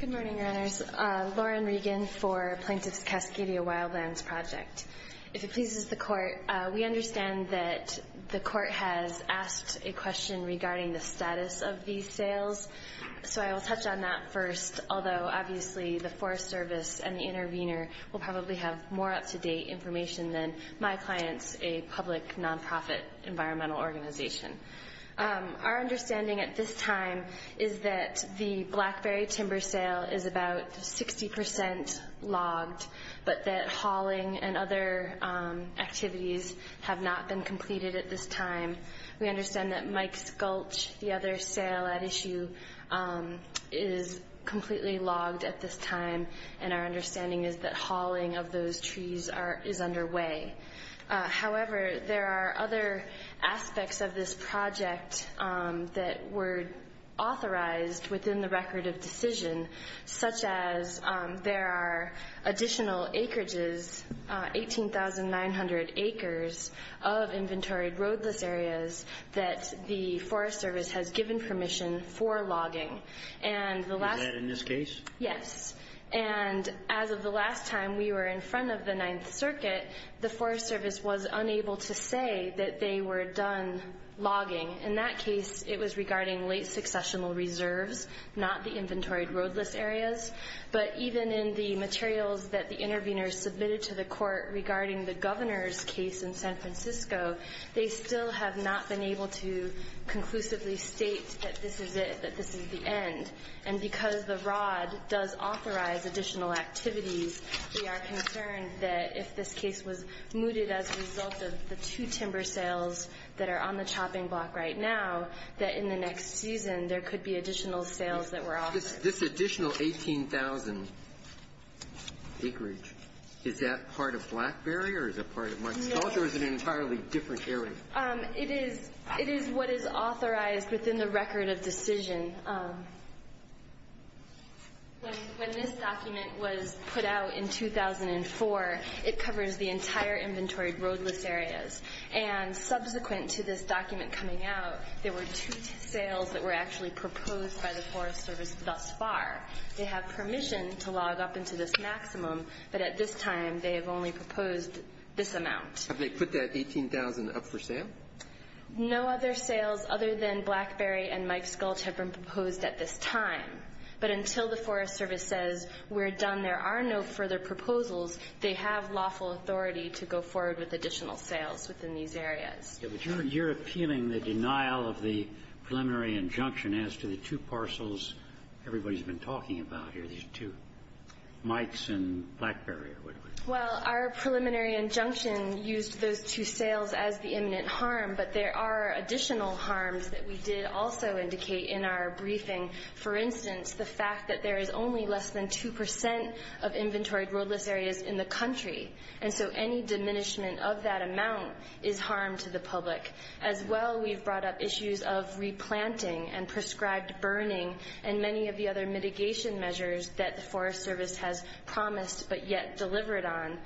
Good morning, Runners. Lauren Regan for Plaintiff's Cascade Wildlands Project. If it pleases the Court, we understand that the Court has asked a question regarding the status of these sales, so I will touch on that first, although obviously the Forest Service and the intervener will probably have more up-to-date information than my clients, a public, non-profit environmental organization. Our understanding at this time is that the Blackberry timber sale is about 60% logged, but that hauling and other activities have not been completed at this time. We understand that Mike's Gulch, the other sale at issue, is completely logged at this time, and our logging of those trees is underway. However, there are other aspects of this project that were authorized within the Record of Decision, such as there are additional acreages, 18,900 acres of inventoried roadless areas that the Forest Service has given permission for logging. Is that in this case? Yes. And as of the last time we were in front of the Ninth Circuit, the Forest Service was unable to say that they were done logging. In that case, it was regarding late successional reserves, not the inventoried roadless areas. But even in the materials that the intervener submitted to the Court regarding the Governor's case in San Francisco, they still have not been able to conclusively state that this is it, that this is the end. And because the ROD does authorize additional activities, we are concerned that if this case was mooted as a result of the two timber sales that are on the chopping block right now, that in the next season there could be additional sales that were authorized. This additional 18,000 acreage, is that part of Blackberry, or is it part of Mike's Gulch, or is it an entirely different area? It is what is authorized within the record of decision. When this document was put out in 2004, it covers the entire inventoried roadless areas. And subsequent to this document coming out, there were two sales that were actually proposed by the Forest Service thus far. They have permission to log up into this maximum, but at this time they have only proposed this amount. Have they put that 18,000 up for sale? No other sales other than Blackberry and Mike's Gulch have been proposed at this time. But until the Forest Service says we're done, there are no further proposals, they have lawful authority to go forward with additional sales within these areas. But you're appealing the denial of the preliminary injunction as to the two parcels everybody's been talking about here, these two, Mike's Gulch and Blackberry. Well, our preliminary injunction used those two sales as the imminent harm, but there are additional harms that we did also indicate in our briefing. For instance, the fact that there is only less than 2 percent of inventoried roadless areas in the country. And so any diminishment of that amount is harm to the public. As well, we've brought up issues of replanting and prescribed burning, and many of the other issues that were promised but yet delivered on,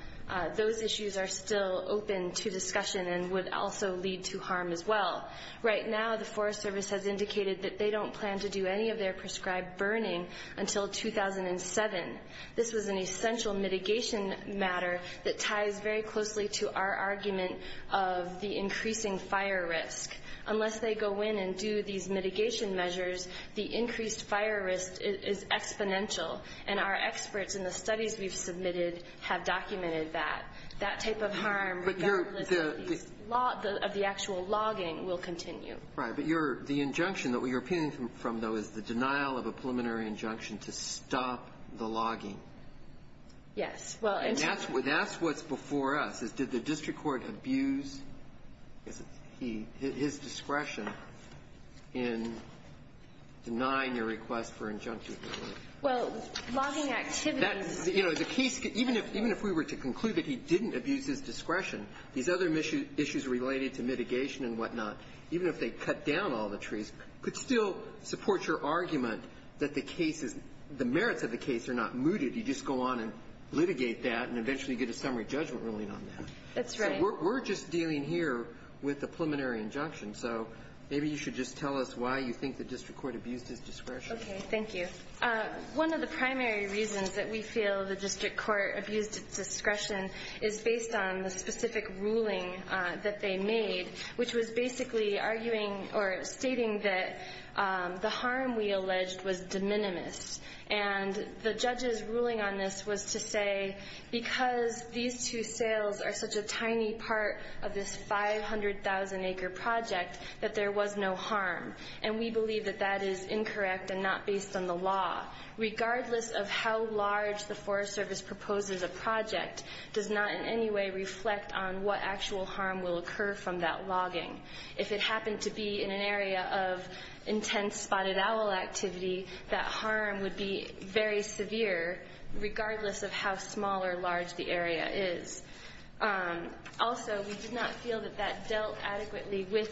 those issues are still open to discussion and would also lead to harm as well. Right now, the Forest Service has indicated that they don't plan to do any of their prescribed burning until 2007. This was an essential mitigation matter that ties very closely to our argument of the increasing fire risk. Unless they go in and do these mitigation measures, the increased fire risk is exponential, and our experts in the studies we've submitted have documented that. That type of harm regardless of the actual logging will continue. Right. But the injunction that you're appealing from, though, is the denial of a preliminary injunction to stop the logging. Yes. And that's what's before us, is did the district court abuse his discretion in denying your request for injunction? Well, logging activities. You know, the case, even if we were to conclude that he didn't abuse his discretion, these other issues related to mitigation and whatnot, even if they cut down all the trees, could still support your argument that the case is the merits of the case are not mooted. You just go on and litigate that and eventually get a summary judgment ruling on that. That's right. We're just dealing here with the preliminary injunction. So maybe you should just tell us why you think the district court abused his discretion. Okay. Thank you. One of the primary reasons that we feel the district court abused its discretion is based on the specific ruling that they made, which was basically arguing or stating that the harm we alleged was de minimis. And the judge's ruling on this was to say, because these two sales are such a tiny part of this 500,000-acre project, that there was no harm. And we believe that that is incorrect and not based on the law. Regardless of how large the Forest Service proposes a project does not in any way reflect on what actual harm will occur from that logging. If it happened to be in an area of intense spotted owl activity, that harm would be very significant. Also, we did not feel that that dealt adequately with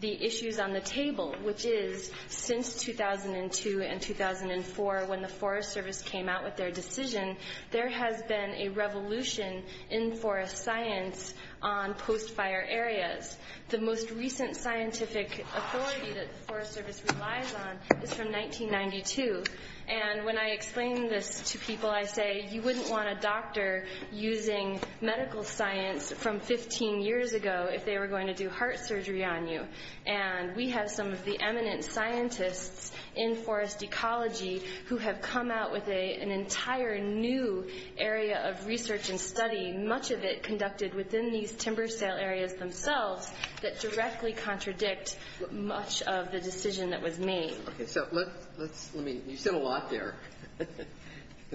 the issues on the table, which is, since 2002 and 2004, when the Forest Service came out with their decision, there has been a revolution in forest science on post-fire areas. The most recent scientific authority that the Forest Service relies on is from 1992. And when I explain this to people, I say, you wouldn't want a doctor using medical science from 15 years ago if they were going to do heart surgery on you. And we have some of the eminent scientists in forest ecology who have come out with an entire new area of research and study, much of it conducted within these timber sale areas themselves, that directly contradict much of the decision that was made. Okay, so let's, let me, you said a lot there.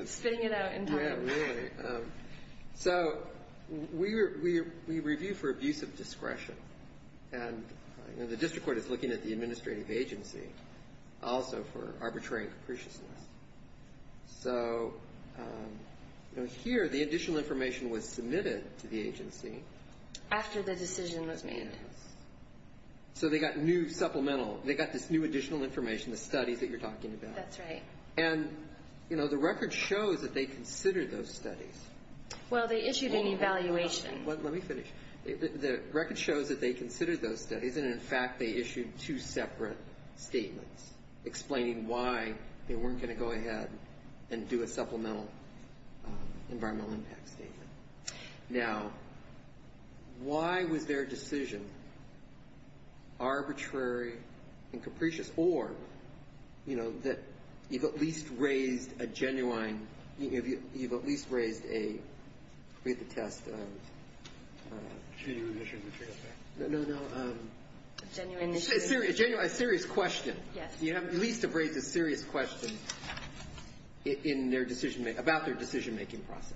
Spitting it out entirely. Yeah, really. So we review for abuse of discretion. And the district court is looking at the administrative agency also for arbitrary and capriciousness. So here the additional information was submitted to the agency. After the decision was made. So they got new supplemental, they got this new additional information, the studies that you're talking about. That's right. And, you know, the record shows that they considered those studies. Well, they issued an evaluation. Let me finish. The record shows that they considered those studies, and in fact, they issued two separate statements explaining why they weren't going to go ahead and do a supplemental environmental impact statement. Now, why was their decision arbitrary and capricious, or, you know, that you've at least raised a genuine, you've at least raised a, read the test. Genuine issue. No, no, no. Genuine issue. A serious question. Yes. I mean, you at least have raised a serious question in their decision, about their decision making process.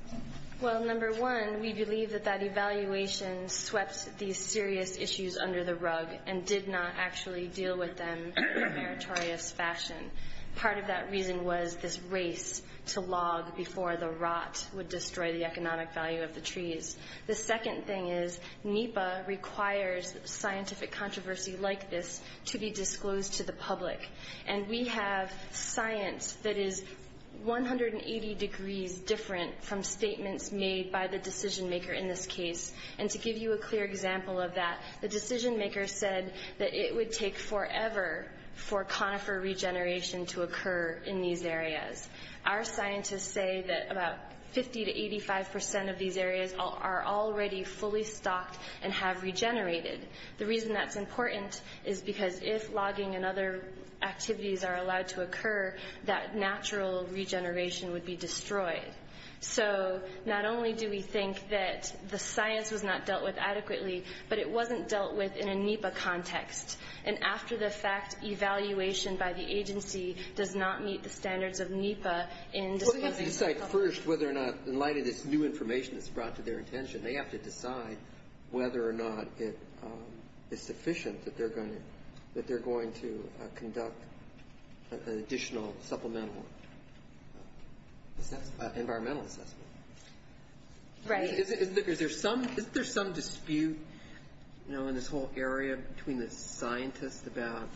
Well, number one, we believe that that evaluation swept these serious issues under the rug and did not actually deal with them in a meritorious fashion. Part of that reason was this race to log before the rot would destroy the economic value of the trees. The second thing is, NEPA requires scientific controversy like this to be disclosed to the public. And we have science that is 180 degrees different from statements made by the decision maker in this case. And to give you a clear example of that, the decision maker said that it would take forever for conifer regeneration to occur in these areas. Our scientists say that about 50 to 85 percent of these areas are already fully stocked and have regenerated. The reason that's important is because if logging and other activities are allowed to occur, that natural regeneration would be destroyed. So not only do we think that the science was not dealt with adequately, but it wasn't dealt with in a NEPA context. And after the fact, evaluation by the agency does not meet the standards of NEPA in disclosing information. They decide first whether or not, in light of this new information that's brought to their attention, they have to decide whether or not it is sufficient that they're going to conduct an additional supplemental environmental assessment. Right. Isn't there some dispute in this whole area between the scientists about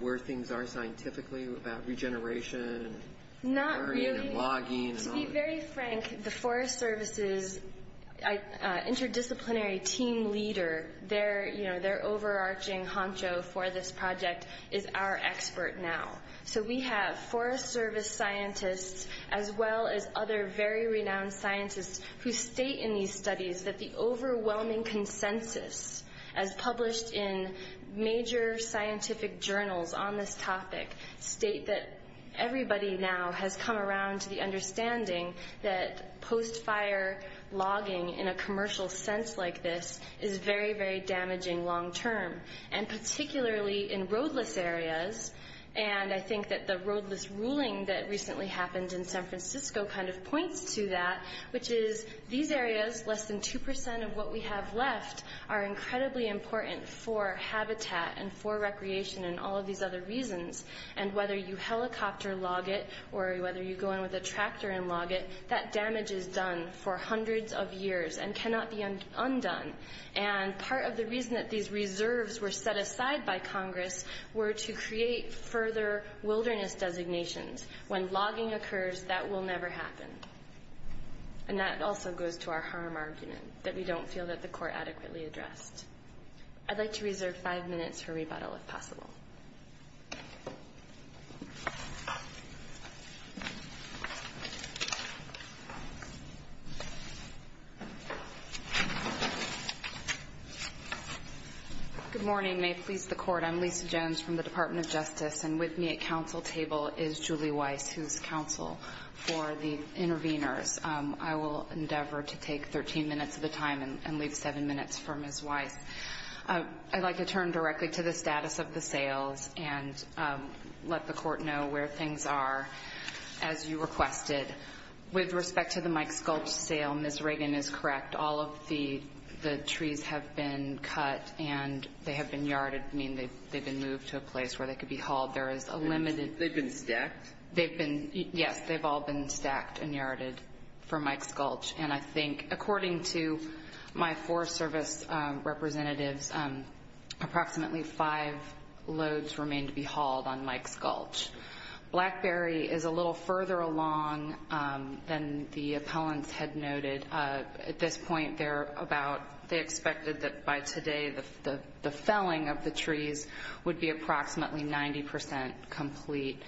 where things are scientifically, about regeneration? Not really. To be very frank, the Forest Service's interdisciplinary team leader, their overarching honcho for this project is our expert now. So we have Forest Service scientists as well as other very renowned scientists who state in these studies that the overwhelming consensus as published in major scientific journals on this topic state that everybody now has come around to the understanding that post-fire logging in a commercial sense like this is very, very damaging long term, and particularly in roadless areas. And I think that the roadless ruling that recently happened in San Francisco kind of points to that, which is these areas, less than 2 percent of what we have left, are incredibly important for habitat and for recreation and all of these other reasons. And whether you helicopter log it or whether you go in with a tractor and log it, that damage is done for hundreds of years and cannot be undone. And part of the reason that these reserves were set aside by Congress were to create further wilderness designations. When logging occurs, that will never happen. And that also goes to our harm argument, that we don't feel that the court adequately addressed. I'd like to reserve five minutes for rebuttal if possible. Good morning. May it please the court, I'm Lisa Jones from the Department of Justice, and with me at counsel table is Julie Weiss, who's counsel for the interveners. I will endeavor to take 13 minutes of the time and leave seven minutes for Ms. Weiss. I'd like to turn directly to the status of the sales and let the court know where things are, as you requested. With respect to the Mike Sculpey sale, Ms. Reagan is correct. All of the trees have been cut and they have been yarded. I mean, they've been moved to a place where they could be hauled. There is a limited... They've been stacked? Yes, they've all been stacked and yarded for Mike Sculpey. And I think, according to my Forest Service representatives, approximately five loads remain to be hauled on Mike Sculpey. Blackberry is a little further along than the appellants had noted. At this point, they're about... They expected that by today, the felling of the trees would be approximately 90% complete.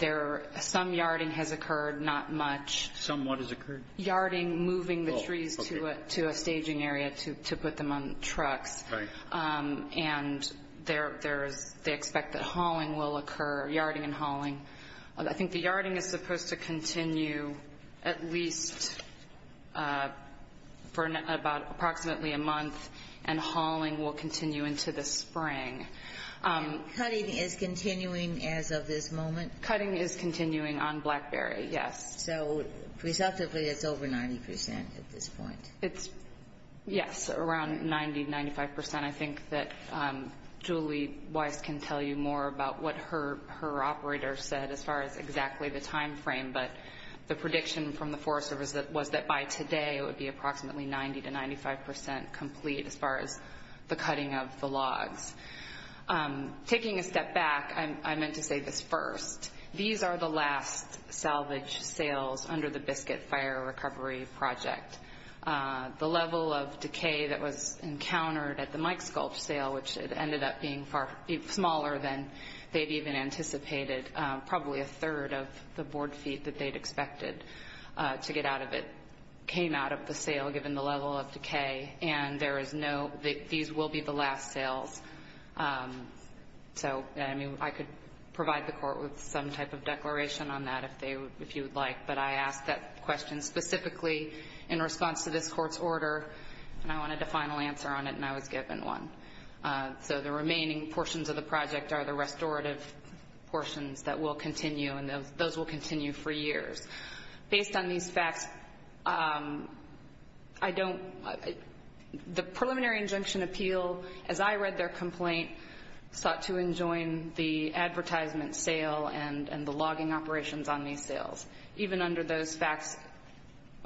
Some yarding has occurred, not much. Some what has occurred? Yarding, moving the trees to a staging area to put them on trucks. Right. And they expect that hauling will occur, yarding and hauling. I think the yarding is supposed to continue at least for approximately a month, and hauling will continue into the spring. And cutting is continuing as of this moment? Cutting is around 90-95%. I think that Julie Weiss can tell you more about what her operator said as far as exactly the timeframe, but the prediction from the Forest Service was that by today it would be approximately 90-95% complete as far as the cutting of the logs. Taking a step back, I meant to say this first. These are the last salvage sales under the Biscuit Fire Recovery Project. The level of decay that was encountered at the Mike Sculpt sale, which ended up being smaller than they'd even anticipated, probably a third of the board feet that they'd expected to get out of it, came out of the sale given the level of decay. And there is no... These will be the last sales. So, I mean, I could provide the court with some type of declaration on that if you would like, but I asked that question specifically in response to this court's order, and I wanted a final answer on it, and I was given one. So the remaining portions of the project are the restorative portions that will continue, and those will continue for years. Based on these facts, I don't... The preliminary injunction appeal, as I read their complaint, sought to enjoin the advertisement sale and the logging operations on these sales. Even under those facts,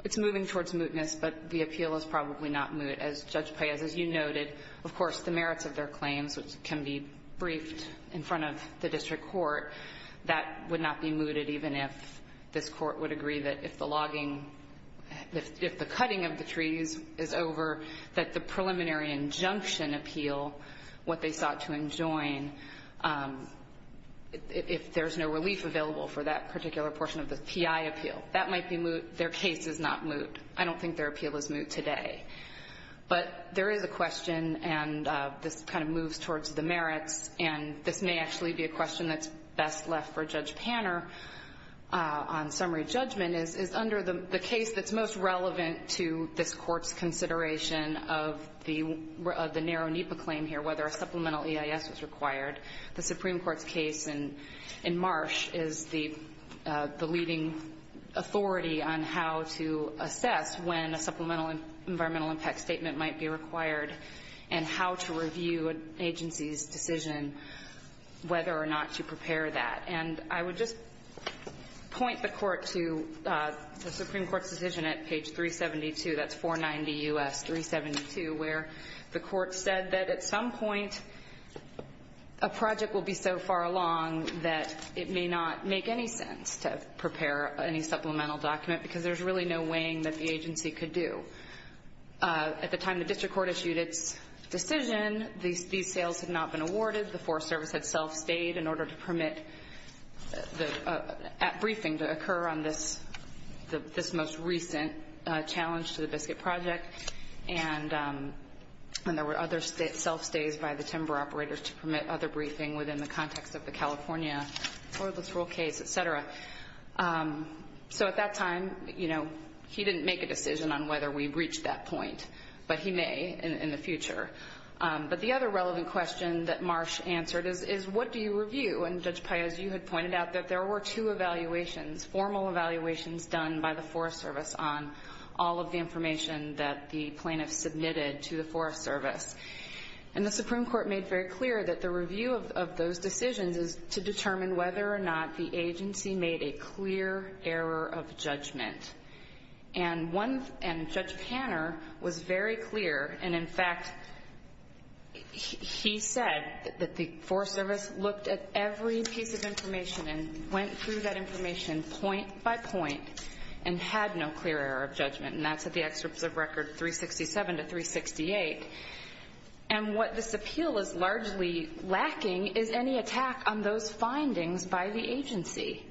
it's moving towards mootness, but the appeal is probably not moot. As Judge Payaz, as you noted, of course, the merits of their claims, which can be briefed in front of the district court, that would not be mooted even if this court would agree that if the logging, if the cutting of the trees is over, that the preliminary injunction appeal, what they sought to enjoin, if there's no relief available for that particular portion of the PI appeal, that might be moot. Their case is not moot. I don't think their appeal is moot today. But there is a question, and this kind of moves towards the merits, and this may actually be a question that's best left for Judge Panner on summary judgment, is under the case that's most relevant to this court's consideration of the narrow NEPA claim here, whether a supplemental EIS was required. The Supreme Court's case in Marsh is the leading authority on how to assess when a supplemental environmental impact statement might be required and how to review an agency's decision whether or not to prepare that. And I would just point the Court to the court said that at some point a project will be so far along that it may not make any sense to prepare any supplemental document, because there's really no weighing that the agency could do. At the time the district court issued its decision, these sales had not been awarded. The Forest Service had self-stayed in order to permit the briefing to occur on this most recent challenge to the Biscuit Project. And there were other self-stays by the timber operators to permit other briefing within the context of the California Toilet Roll case, et cetera. So at that time, he didn't make a decision on whether we reached that point, but he may in the future. But the other relevant question that Marsh answered is, what do you review? And Judge Paez, you had pointed out that there were two evaluations, formal evaluations done by the Forest Service on all of the information that the plaintiffs submitted to the Forest Service. And the Supreme Court made very clear that the review of those decisions is to determine whether or not the agency made a clear error of judgment. And Judge Panner was very clear, and in fact, he said that the Forest Service looked at every piece of information and went through that information point by point and had no clear error of judgment. And that's at the excerpts of Record 367 to 368. And what this appeal is largely lacking is any attack on those findings by the agency.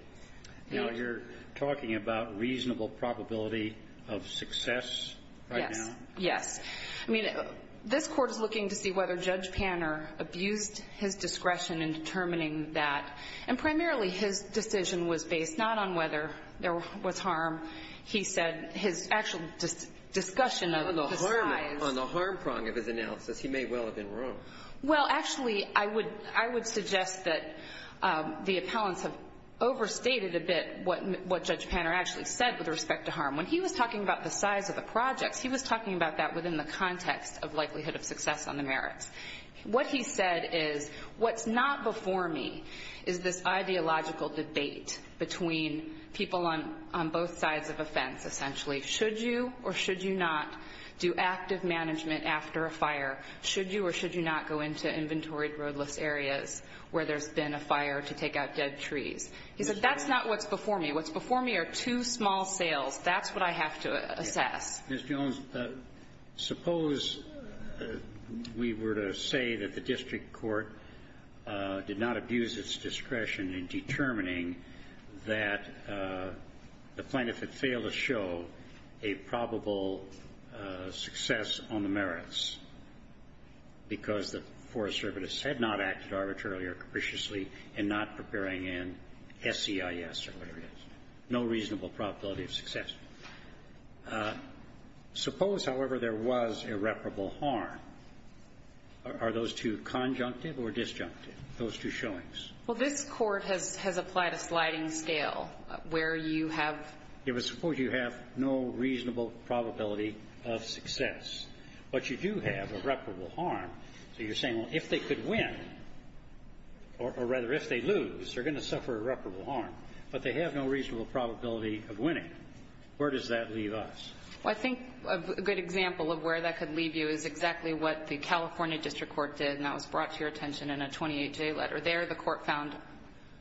Now, you're talking about reasonable probability of success right now? Yes. I mean, this Court is looking to see whether Judge Panner abused his discretion in determining that. And primarily, his decision was based not on whether there was harm. He said his actual discussion of the size. On the harm prong of his analysis, he may well have been wrong. Well, actually, I would suggest that the appellants have overstated a bit what Judge Panner actually said with respect to harm. When he was talking about the size of the projects, he was talking about that within the context of likelihood of success on the merits. What he said is, what's not before me is this ideological debate between people on both sides of a fence, essentially. Should you or should you not do active management after a fire? Should you or should you not go into inventoried roadless areas where there's been a fire to take out dead trees? He said, that's not what's before me. What's before me are two small sales. That's what I have to assess. Mr. Jones, suppose we were to say that the district court did not abuse its discretion in determining that the plaintiff had failed to show a probable success on the merits because the Forest Service had not acted arbitrarily or capriciously in not preparing an SEIS or whatever it is, no reasonable probability of success. Suppose, however, there was irreparable harm. Are those two conjunctive or disjunctive, those two showings? Well, this Court has applied a sliding scale where you have ---- it would suppose you have no reasonable probability of success. But you do have irreparable harm. So you're saying, well, if they could win, or rather if they lose, they're going to suffer irreparable harm. But they have no reasonable probability of winning. Where does that leave us? Well, I think a good example of where that could leave you is exactly what the California district court did, and that was brought to your attention in a 28-day letter. There the Court found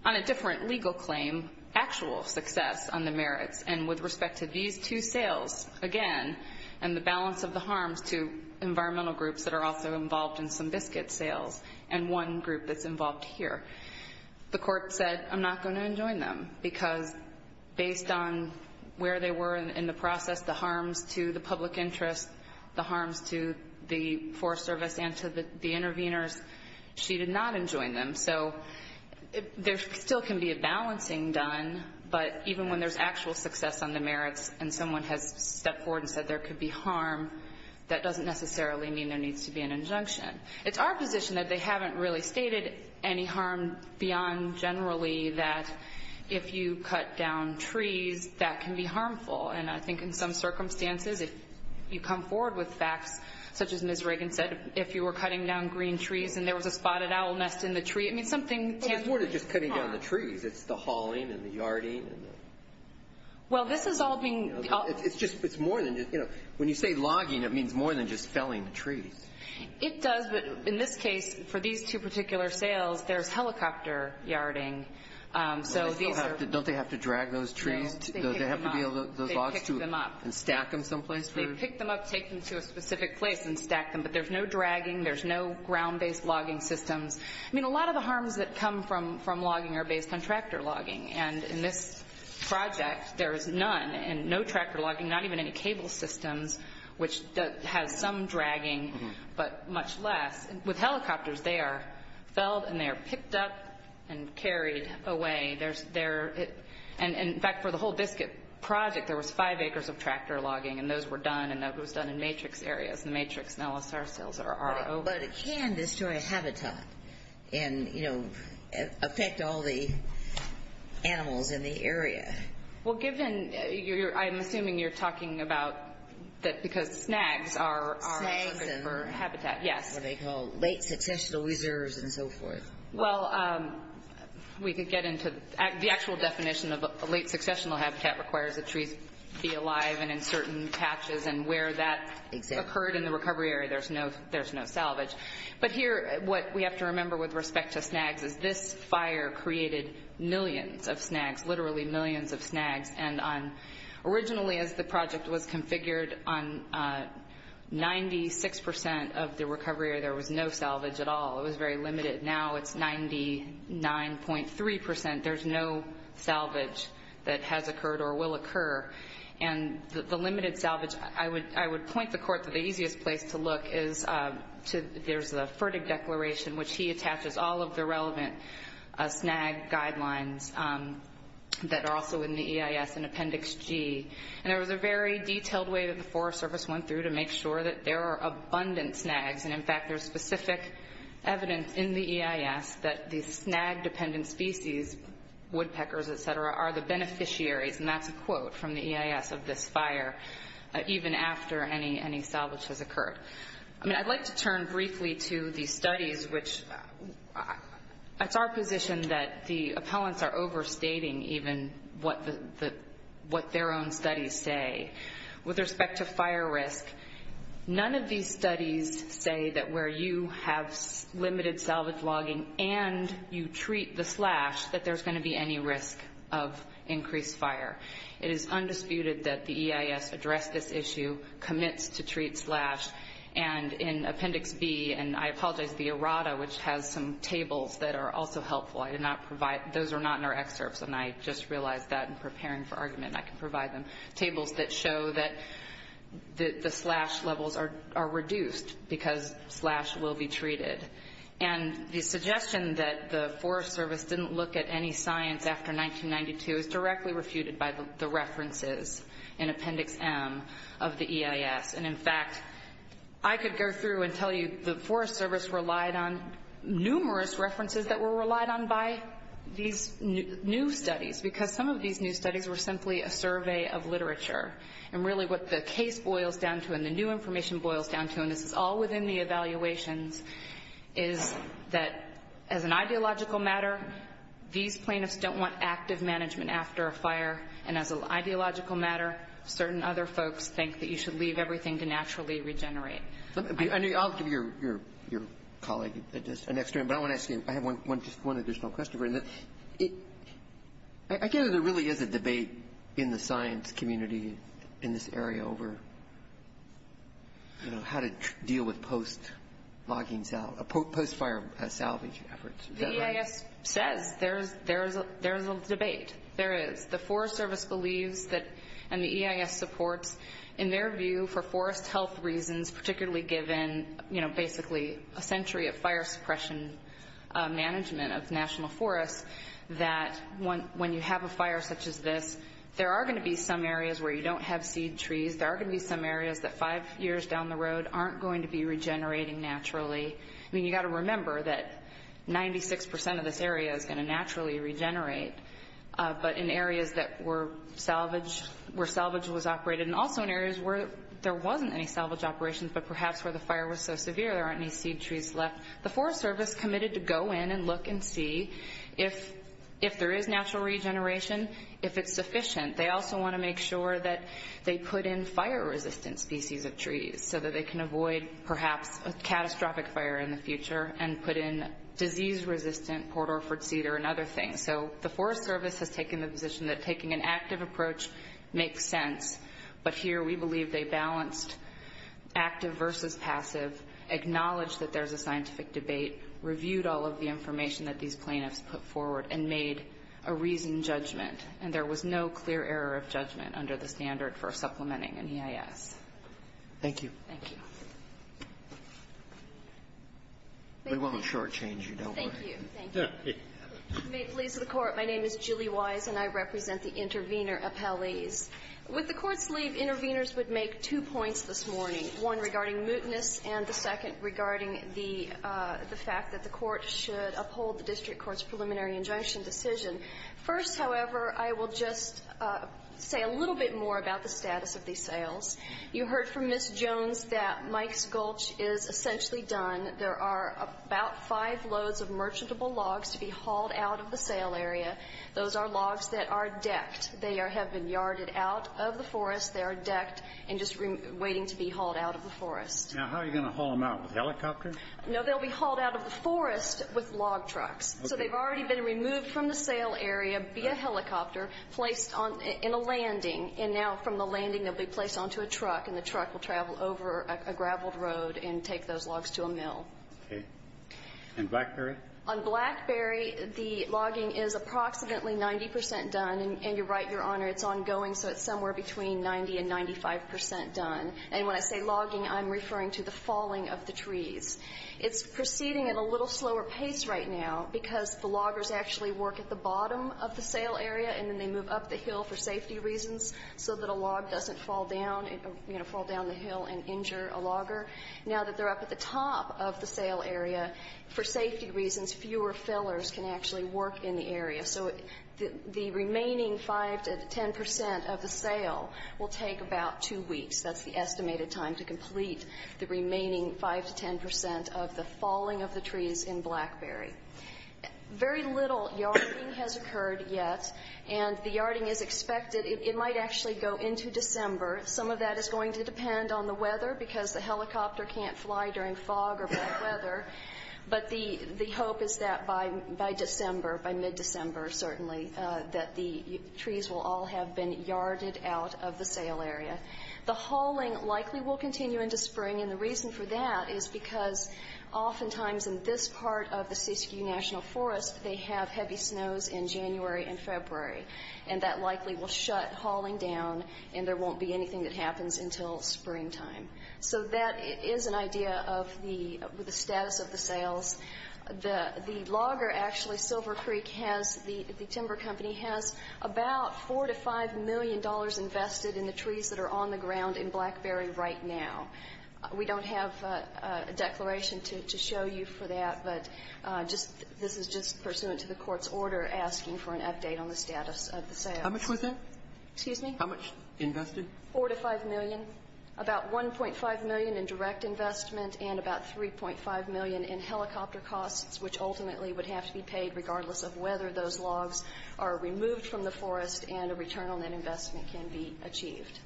on a different legal claim actual success on the merits. And with respect to these two sales, again, and the balance of the harms to environmental groups that are also involved in some biscuit sales and one group that's involved here, the Court said, I'm not going to enjoin them because based on where they were in the process, the harms to the public interest, the harms to the Forest Service and to the intervenors, she did not enjoin them. So there still can be a balancing done, but even when there's actual success on the merits and someone has stepped forward and said there could be harm, that doesn't necessarily mean there needs to be an injunction. It's our position that they haven't really stated any harm beyond generally that if you cut down trees, that can be harmful. And I think in some circumstances, if you come forward with facts such as Ms. Hickman, if you were cutting down green trees and there was a spotted owl nest in the tree, it means something tangible. It's more than just cutting down the trees. It's the hauling and the yarding and the... Well, this is all being... It's more than just... When you say logging, it means more than just felling the trees. It does, but in this case, for these two particular sales, there's helicopter yarding, so these are... Don't they have to drag those trees? No, they pick them up. They have to be able to... They pick them up. And stack them someplace? They pick them up, take them to a specific place, and stack them. But there's no dragging. There's no ground-based logging systems. I mean, a lot of the harms that come from logging are based on tractor logging. And in this project, there is none and no tractor logging, not even any cable systems, which has some dragging, but much less. With helicopters, they are felled and they are picked up and carried away. And, in fact, for the whole biscuit project, there was five acres of tractor done, and that was done in matrix areas. The matrix and LSR sales are over. But can this destroy a habitat and, you know, affect all the animals in the area? Well, given... I'm assuming you're talking about... Because snags are... Snags are... Habitat, yes. What they call late successional reserves and so forth. Well, we could get into... The actual definition of a late successional habitat requires the trees be alive and certain patches, and where that occurred in the recovery area, there's no salvage. But here, what we have to remember with respect to snags is this fire created millions of snags, literally millions of snags. And originally, as the project was configured, on 96% of the recovery area, there was no salvage at all. It was very limited. Now it's 99.3%. There's no salvage that has occurred or will occur. And the limited salvage... I would point the court that the easiest place to look is to... There's a Fertig Declaration, which he attaches all of the relevant snag guidelines that are also in the EIS in Appendix G. And there was a very detailed way that the Forest Service went through to make sure that there are abundant snags. And, in fact, there's specific evidence in the EIS that the snag-dependent species, woodpeckers, et cetera, are the beneficiaries. And that's a quote from the EIS of this fire, even after any salvage has occurred. I'd like to turn briefly to the studies, which... It's our position that the appellants are overstating even what their own studies say. With respect to fire risk, none of these studies say that where you have limited salvage logging and you treat the slash, that there's going to be any risk of increased fire. It is undisputed that the EIS addressed this issue, commits to treat slash. And in Appendix B, and I apologize, the errata, which has some tables that are also helpful. I did not provide... Those are not in our excerpts, and I just realized that in preparing for argument. I can provide them. Tables that show that the slash levels are reduced because slash will be treated. And the suggestion that the Forest Service didn't look at any science after 1992 is directly refuted by the references in Appendix M of the EIS. And in fact, I could go through and tell you the Forest Service relied on numerous references that were relied on by these new studies, because some of these new studies were simply a survey of literature. And really what the case boils down to and the new information boils down to, and this is all within the evaluations, is that as an ideological matter, these plaintiffs don't want active management after a fire. And as an ideological matter, certain other folks think that you should leave everything to naturally regenerate. I'll give your colleague an extra. But I want to ask you, I have just one additional question. I get that there really is a debate in the science community in this area over, you know, how to deal with post-logging, post-fire salvage efforts. Is that right? The EIS says there is a debate. There is. The Forest Service believes that, and the EIS supports, in their view, for forest health reasons, particularly given, you know, basically a century of fire suppression management of national forests, that when you have a fire such as this, there are going to be some areas where you don't have seed trees. There are going to be some areas that five years down the road aren't going to be regenerating naturally. I mean, you've got to remember that 96 percent of this area is going to naturally regenerate. But in areas that were salvaged, where salvage was operated, and also in areas where there wasn't any salvage operations but perhaps where the fire was so severe there aren't any seed trees left, the Forest Service committed to go in and look and see if there is natural regeneration, if it's sufficient. They also want to make sure that they put in fire-resistant species of trees so that they can avoid, perhaps, a catastrophic fire in the future and put in disease-resistant Port Orford cedar and other things. So the Forest Service has taken the position that taking an active approach makes sense, but here we believe they balanced active versus passive, acknowledged that there's a scientific debate, reviewed all of the information that these plaintiffs put forward, and made a reasoned judgment. And there was no clear error of judgment under the standard for supplementing an EIS. Thank you. Thank you. We won't shortchange you, don't worry. Thank you. May it please the Court. My name is Julie Wise, and I represent the intervener appellees. With the Court's leave, interveners would make two points this morning, one regarding mootness and the second regarding the fact that the Court should uphold the district court's preliminary injunction decision. First, however, I will just say a little bit more about the status of these sales. You heard from Ms. Jones that Mike's Gulch is essentially done. There are about five loads of merchantable logs to be hauled out of the sale area. Those are logs that are decked. They have been yarded out of the forest. They are decked and just waiting to be hauled out of the forest. Now, how are you going to haul them out? With helicopters? No, they'll be hauled out of the forest with log trucks. So they've already been removed from the sale area via helicopter, placed in a landing, and now from the landing they'll be placed onto a truck, and the truck will travel over a graveled road and take those logs to a mill. Okay. And Blackberry? On Blackberry, the logging is approximately 90 percent done, and you're right, Your Honor, it's ongoing, so it's somewhere between 90 and 95 percent done. And when I say logging, I'm referring to the falling of the trees. It's proceeding at a little slower pace right now because the loggers actually work at the bottom of the sale area and then they move up the hill for safety reasons so that a log doesn't fall down the hill and injure a logger. Now that they're up at the top of the sale area, for safety reasons, fewer fillers can actually work in the area. So the remaining 5 to 10 percent of the sale will take about two weeks. That's the estimated time to complete the remaining 5 to 10 percent of the falling of the trees in Blackberry. Very little yarding has occurred yet, and the yarding is expected. It might actually go into December. Some of that is going to depend on the weather because the helicopter can't fly during fog or bad weather, but the hope is that by December, by mid-December certainly, that the trees will all have been yarded out of the sale area. The hauling likely will continue into spring, and the reason for that is because oftentimes in this part of the and there won't be anything that happens until springtime. So that is an idea of the status of the sales. The logger actually, Silver Creek, the timber company, has about $4 to $5 million invested in the trees that are on the ground in Blackberry right now. We don't have a declaration to show you for that, but this is just pursuant to the court's order asking for an update on the status of the sales. How much was that? Excuse me? How much invested? $4 to $5 million, about $1.5 million in direct investment, and about $3.5 million in helicopter costs, which ultimately would have to be paid regardless of whether those logs are removed from the forest and a return on that investment can be achieved.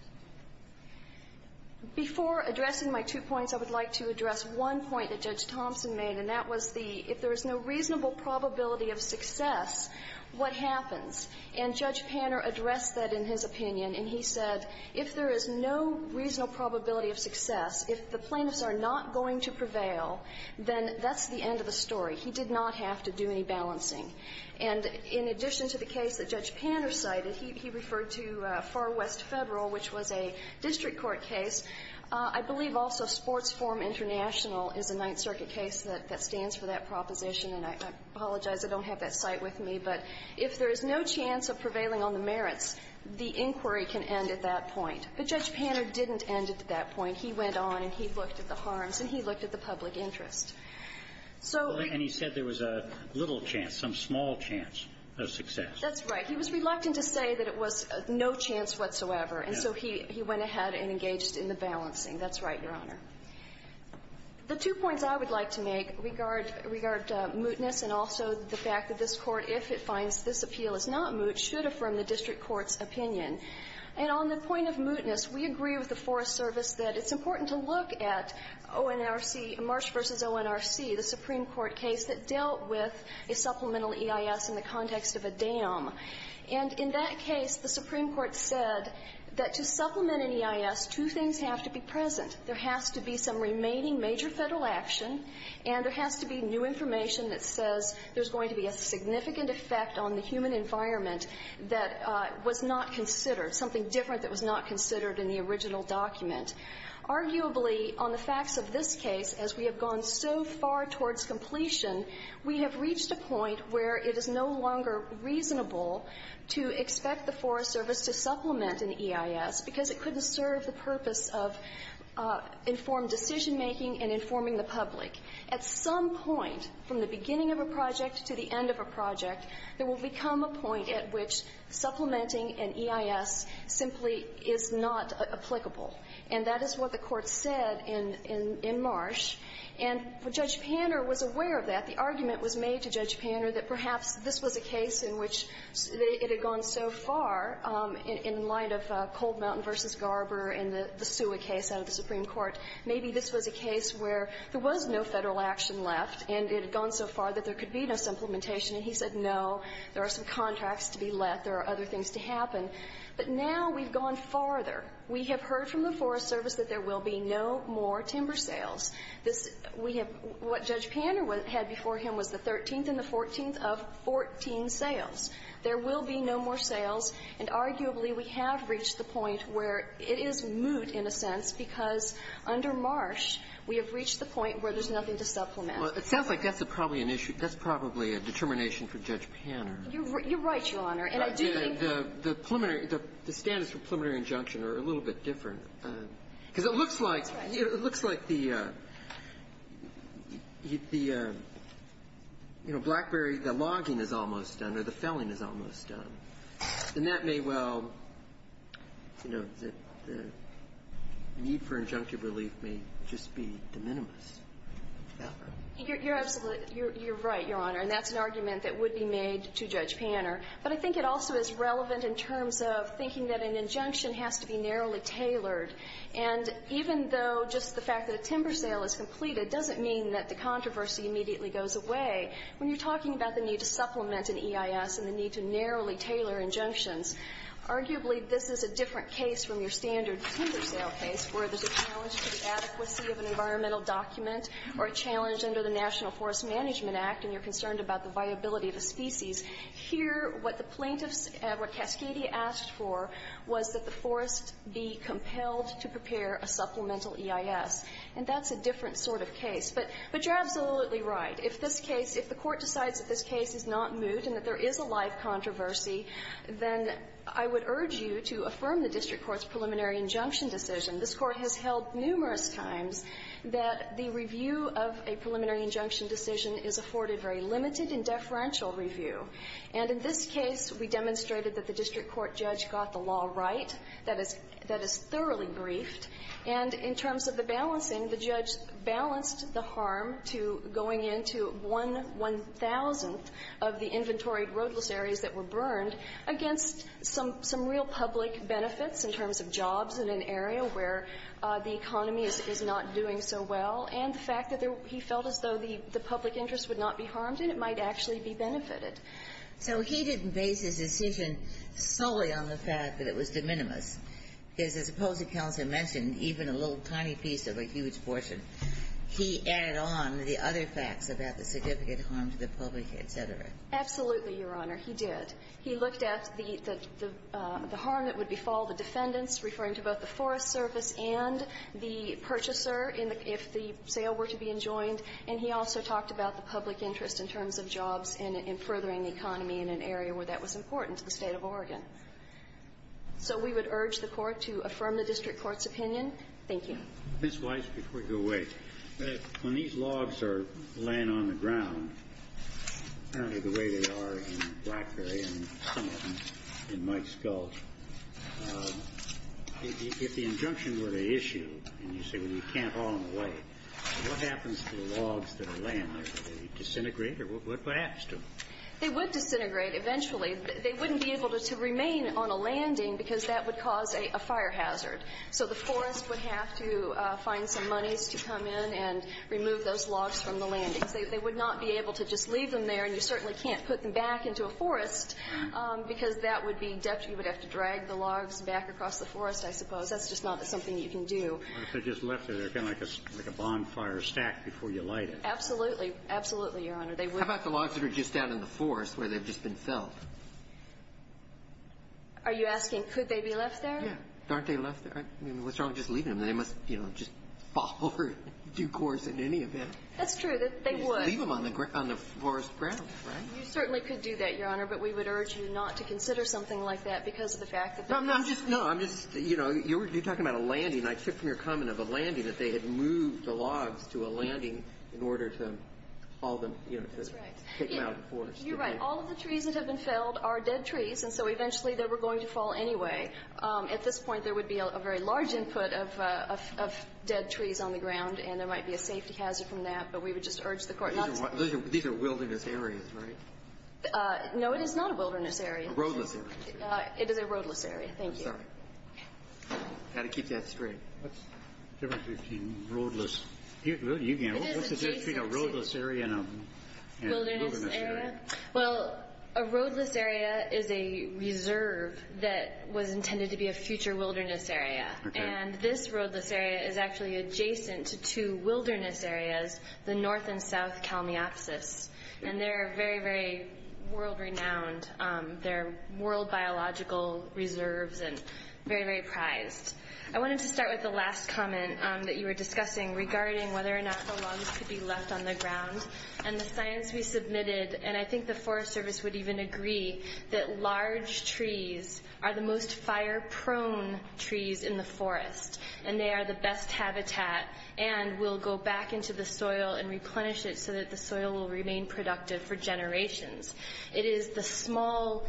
Before addressing my two points, I would like to address one point that Judge Thompson made, and that was the if there is no reasonable probability of success, what happens? And Judge Panner addressed that in his opinion, and he said, if there is no reasonable probability of success, if the plaintiffs are not going to prevail, then that's the end of the story. He did not have to do any balancing. And in addition to the case that Judge Panner cited, he referred to Far West Federal, which was a district court case. I believe also Sports Forum International is a Ninth Circuit case that stands for that proposition, and I apologize. I don't have that cite with me. But if there is no chance of prevailing on the merits, the inquiry can end at that point. But Judge Panner didn't end at that point. He went on and he looked at the harms and he looked at the public interest. So we ---- And he said there was a little chance, some small chance of success. That's right. He was reluctant to say that it was no chance whatsoever. And so he went ahead and engaged in the balancing. That's right, Your Honor. The two points I would like to make regard mootness and also the fact that this appeal is not moot should affirm the district court's opinion. And on the point of mootness, we agree with the Forest Service that it's important to look at ONRC, Marsh v. ONRC, the Supreme Court case that dealt with a supplemental EIS in the context of a dam. And in that case, the Supreme Court said that to supplement an EIS, two things have to be present. There has to be some remaining major Federal action, and there has to be new information that says there's going to be a significant effect on the human environment that was not considered, something different that was not considered in the original document. Arguably, on the facts of this case, as we have gone so far towards completion, we have reached a point where it is no longer reasonable to expect the Forest Service to supplement an EIS because it couldn't serve the purpose of informed decision making and informing the public. At some point from the beginning of a project to the end of a project, there will become a point at which supplementing an EIS simply is not applicable. And that is what the Court said in Marsh. And Judge Panner was aware of that. The argument was made to Judge Panner that perhaps this was a case in which it had gone so far in light of Cold Mountain v. Garber and the Sua case out of the Supreme Court, maybe this was a case where there was no Federal action left and it had gone so far that there could be no supplementation, and he said, no, there are some contracts to be let, there are other things to happen. But now we've gone farther. We have heard from the Forest Service that there will be no more timber sales. This we have what Judge Panner had before him was the 13th and the 14th of 14 sales. There will be no more sales, and arguably we have reached the point where it is moot in a sense because under Marsh we have reached the point where there's nothing to supplement. Well, it sounds like that's probably an issue. That's probably a determination for Judge Panner. You're right, Your Honor. And I do think that the preliminary the standards for preliminary injunction are a little bit different because it looks like it looks like the, you know, Blackberry, the logging is almost done or the felling is almost done. And that may well, you know, the need for injunctive relief may just be de minimis. You're absolutely, you're right, Your Honor. And that's an argument that would be made to Judge Panner. But I think it also is relevant in terms of thinking that an injunction has to be narrowly tailored. And even though just the fact that a timber sale is completed doesn't mean that the controversy immediately goes away. When you're talking about the need to supplement an EIS and the need to narrowly tailor injunctions, arguably, this is a different case from your standard timber sale case where there's a challenge to the adequacy of an environmental document or a challenge under the National Forest Management Act and you're concerned about the viability of the species. Here, what the plaintiffs, what Cascadia asked for was that the forest be compelled to prepare a supplemental EIS. And that's a different sort of case. But you're absolutely right. If this case, if the Court decides that this case is not moot and that there is a live controversy, then I would urge you to affirm the district court's preliminary injunction decision. This Court has held numerous times that the review of a preliminary injunction decision is afforded very limited and deferential review. And in this case, we demonstrated that the district court judge got the law right. That is, that is thoroughly briefed. And in terms of the balancing, the judge balanced the harm to going into one one-thousandth of the inventory roadless areas that were burned against some real public benefits in terms of jobs in an area where the economy is not doing so well, and the fact that there he felt as though the public interest would not be harmed and it might actually be benefited. So he didn't base his decision solely on the fact that it was de minimis. Because as the policy counsel mentioned, even a little tiny piece of a huge portion, he added on the other facts about the significant harm to the public, et cetera. Absolutely, Your Honor. He did. He looked at the harm that would befall the defendants, referring to both the Forest Service and the purchaser, if the sale were to be enjoined. And he also talked about the public interest in terms of jobs and furthering the economy in an area where that was important to the State of Oregon. So we would urge the Court to affirm the district court's opinion. Thank you. Ms. Weiss, before you go away, when these logs are laying on the ground, apparently the way they are in Blackberry and some of them in Mike's Gulch, if the injunction were to issue, and you say, well, you can't haul them away, what happens to the logs that are laying there? Do they disintegrate, or what happens to them? They would disintegrate eventually. They wouldn't be able to remain on a landing because that would cause a fire hazard. So the forest would have to find some monies to come in and remove those logs from the landings. They would not be able to just leave them there, and you certainly can't put them back into a forest because that would be deft. You would have to drag the logs back across the forest, I suppose. That's just not something you can do. If they're just left there, they're kind of like a bonfire stack before you light Absolutely. Absolutely, Your Honor. How about the logs that are just down in the forest where they've just been felled? Are you asking, could they be left there? Yeah. Aren't they left there? I mean, what's wrong with just leaving them? They must, you know, just fall over and do course in any event. That's true. They would. Leave them on the forest ground, right? You certainly could do that, Your Honor, but we would urge you not to consider something like that because of the fact that there's No, I'm just, you know, you're talking about a landing. I took from your comment of a landing, that they had moved the logs to a landing in order to haul them, you know, to take them out of the forest. That's right. You're right. All of the trees that have been felled are dead trees, and so eventually they were going to fall anyway. At this point, there would be a very large input of dead trees on the ground, and there might be a safety hazard from that, but we would just urge the Court not to These are wilderness areas, right? No, it is not a wilderness area. A roadless area. It is a roadless area. Thank you. I'm sorry. Got to keep that straight. What's the difference between roadless? What's the difference between a roadless area and a wilderness area? Well, a roadless area is a reserve that was intended to be a future wilderness area, and this roadless area is actually adjacent to two wilderness areas, the North and South Kalmiopsis, and they're very, very world-renowned. They're world biological reserves and very, very prized. I wanted to start with the last comment that you were discussing regarding whether or not the lungs could be left on the ground, and the science we submitted, and I think the Forest Service would even agree, that large trees are the most fire-prone trees in the forest, and they are the best habitat and will go back into the soil and replenish it so that the soil will remain productive for generations. It is the small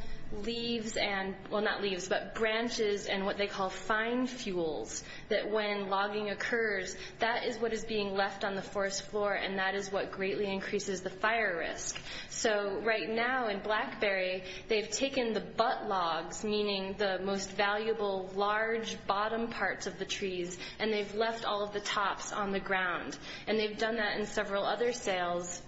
leaves and, well, not leaves, but branches and what they call fine fuels, that when logging occurs, that is what is being left on the forest floor, and that is what greatly increases the fire risk. So right now in Blackberry, they've taken the butt logs, meaning the most valuable large bottom parts of the trees, and they've left all of the tops on the ground, and they've done that in several other sales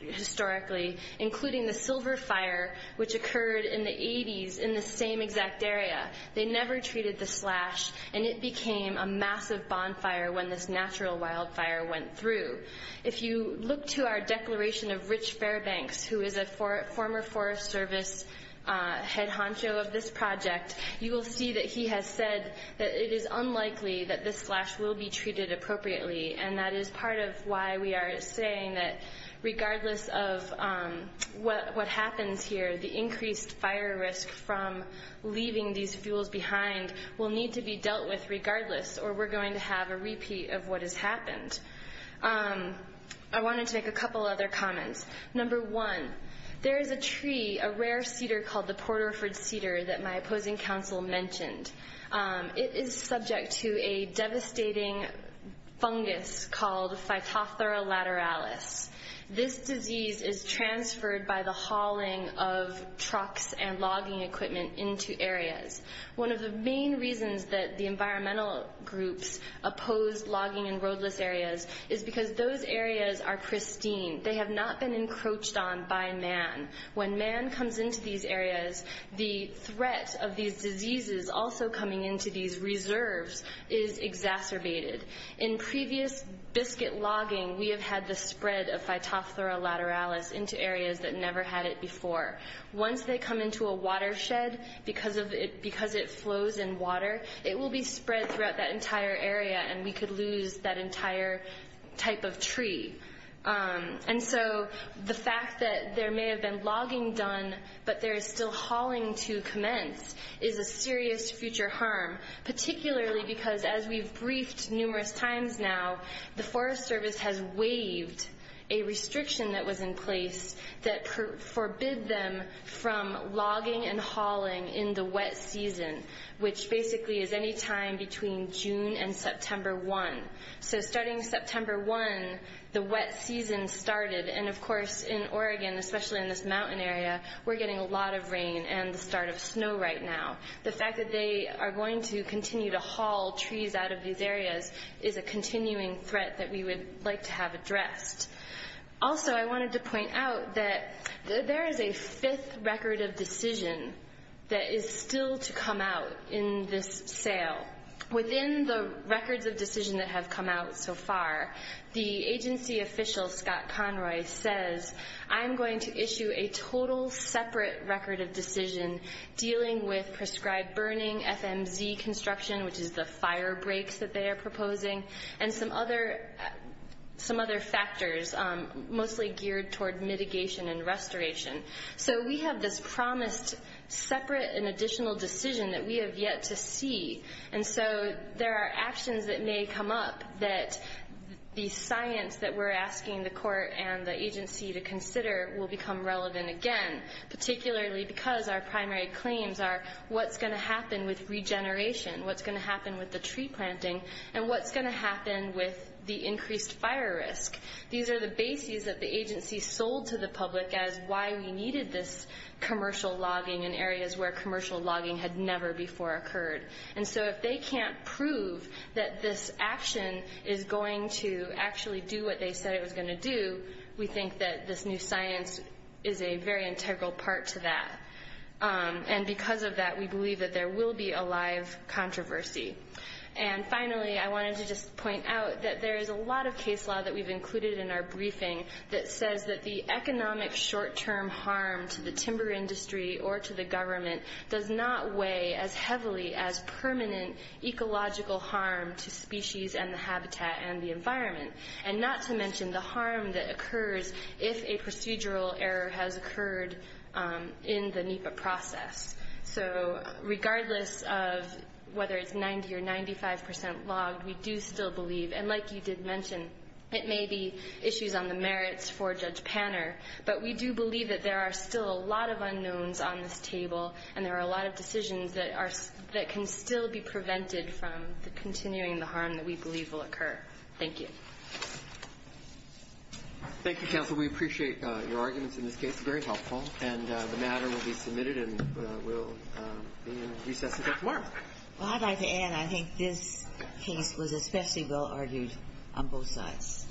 historically, including the Silver Fire, which occurred in the 80s in the same exact area. They never treated the slash, and it became a massive bonfire when this natural wildfire went through. If you look to our declaration of Rich Fairbanks, who is a former Forest Service head honcho of this project, you will see that he has said that it is unlikely that this slash will be treated appropriately, and that is part of why we are saying that regardless of what happens here, the increased fire risk from leaving these fuels behind will need to be dealt with regardless, or we're going to have a repeat of what has happened. I wanted to make a couple other comments. Number one, there is a tree, a rare cedar called the Porterford Cedar, that my opposing counsel mentioned. It is subject to a devastating fungus called Phytophthora lateralis. This disease is transferred by the hauling of trucks and logging equipment into areas. One of the main reasons that the environmental groups oppose logging in roadless areas is because those areas are pristine. They have not been encroached on by man. When man comes into these areas, the threat of these diseases also coming into these reserves is exacerbated. In previous biscuit logging, we have had the spread of Phytophthora lateralis into areas that never had it before. Once they come into a watershed, because it flows in water, it will be spread throughout that entire area, and we could lose that entire type of tree. The fact that there may have been logging done, but there is still hauling to commence, is a serious future harm, particularly because, as we've briefed numerous times now, the Forest Service has waived a restriction that was in place that forbid them from logging and hauling in the wet season, which basically is any time between June and September 1. So starting September 1, the wet season started, and of course, in Oregon, especially in this mountain area, we're getting a lot of rain and the start of snow right now. The fact that they are going to continue to haul trees out of these areas is a continuing threat that we would like to have addressed. Also, I wanted to point out that there is a fifth record of decision that is still to come out in this sale. Within the records of decision that have come out so far, the agency official, Scott Conroy, says, I'm going to issue a total separate record of decision dealing with prescribed burning, FMZ construction, which is the fire breaks that they are proposing, and some other factors, mostly geared toward mitigation and restoration. So we have this promised separate and additional decision that we have yet to see, and so there are actions that may come up that the science that we're asking the court and the agency to consider will become relevant again, particularly because our primary claims are what's going to happen with regeneration, what's going to happen with the tree planting, and what's going to happen with the increased fire risk. These are the bases that the agency sold to the public as why we needed this commercial logging in areas where commercial logging had never before occurred. And so if they can't prove that this action is going to actually do what they said it was going to do, we think that this new science is a very integral part to that. And because of that, we believe that there will be a live controversy. And finally, I wanted to just point out that there is a lot of case law that we've included in our briefing that says that the economic short-term harm to the timber industry or to the government does not weigh as heavily as permanent ecological harm to species and the habitat and the environment, and not to mention the harm that occurs if a procedural error has occurred in the NEPA process. So regardless of whether it's 90% or 95% logged, we do still believe, and like you did mention, it may be issues on the merits for Judge Panner, but we do believe that there are still a lot of unknowns on this table and there are a lot of decisions that can still be prevented from continuing the harm that we believe will occur. Thank you. Thank you, Counsel. We appreciate your arguments in this case. Very helpful. And the matter will be submitted and will be in recess until tomorrow. Well, I'd like to add, I think this case was especially well argued on both sides.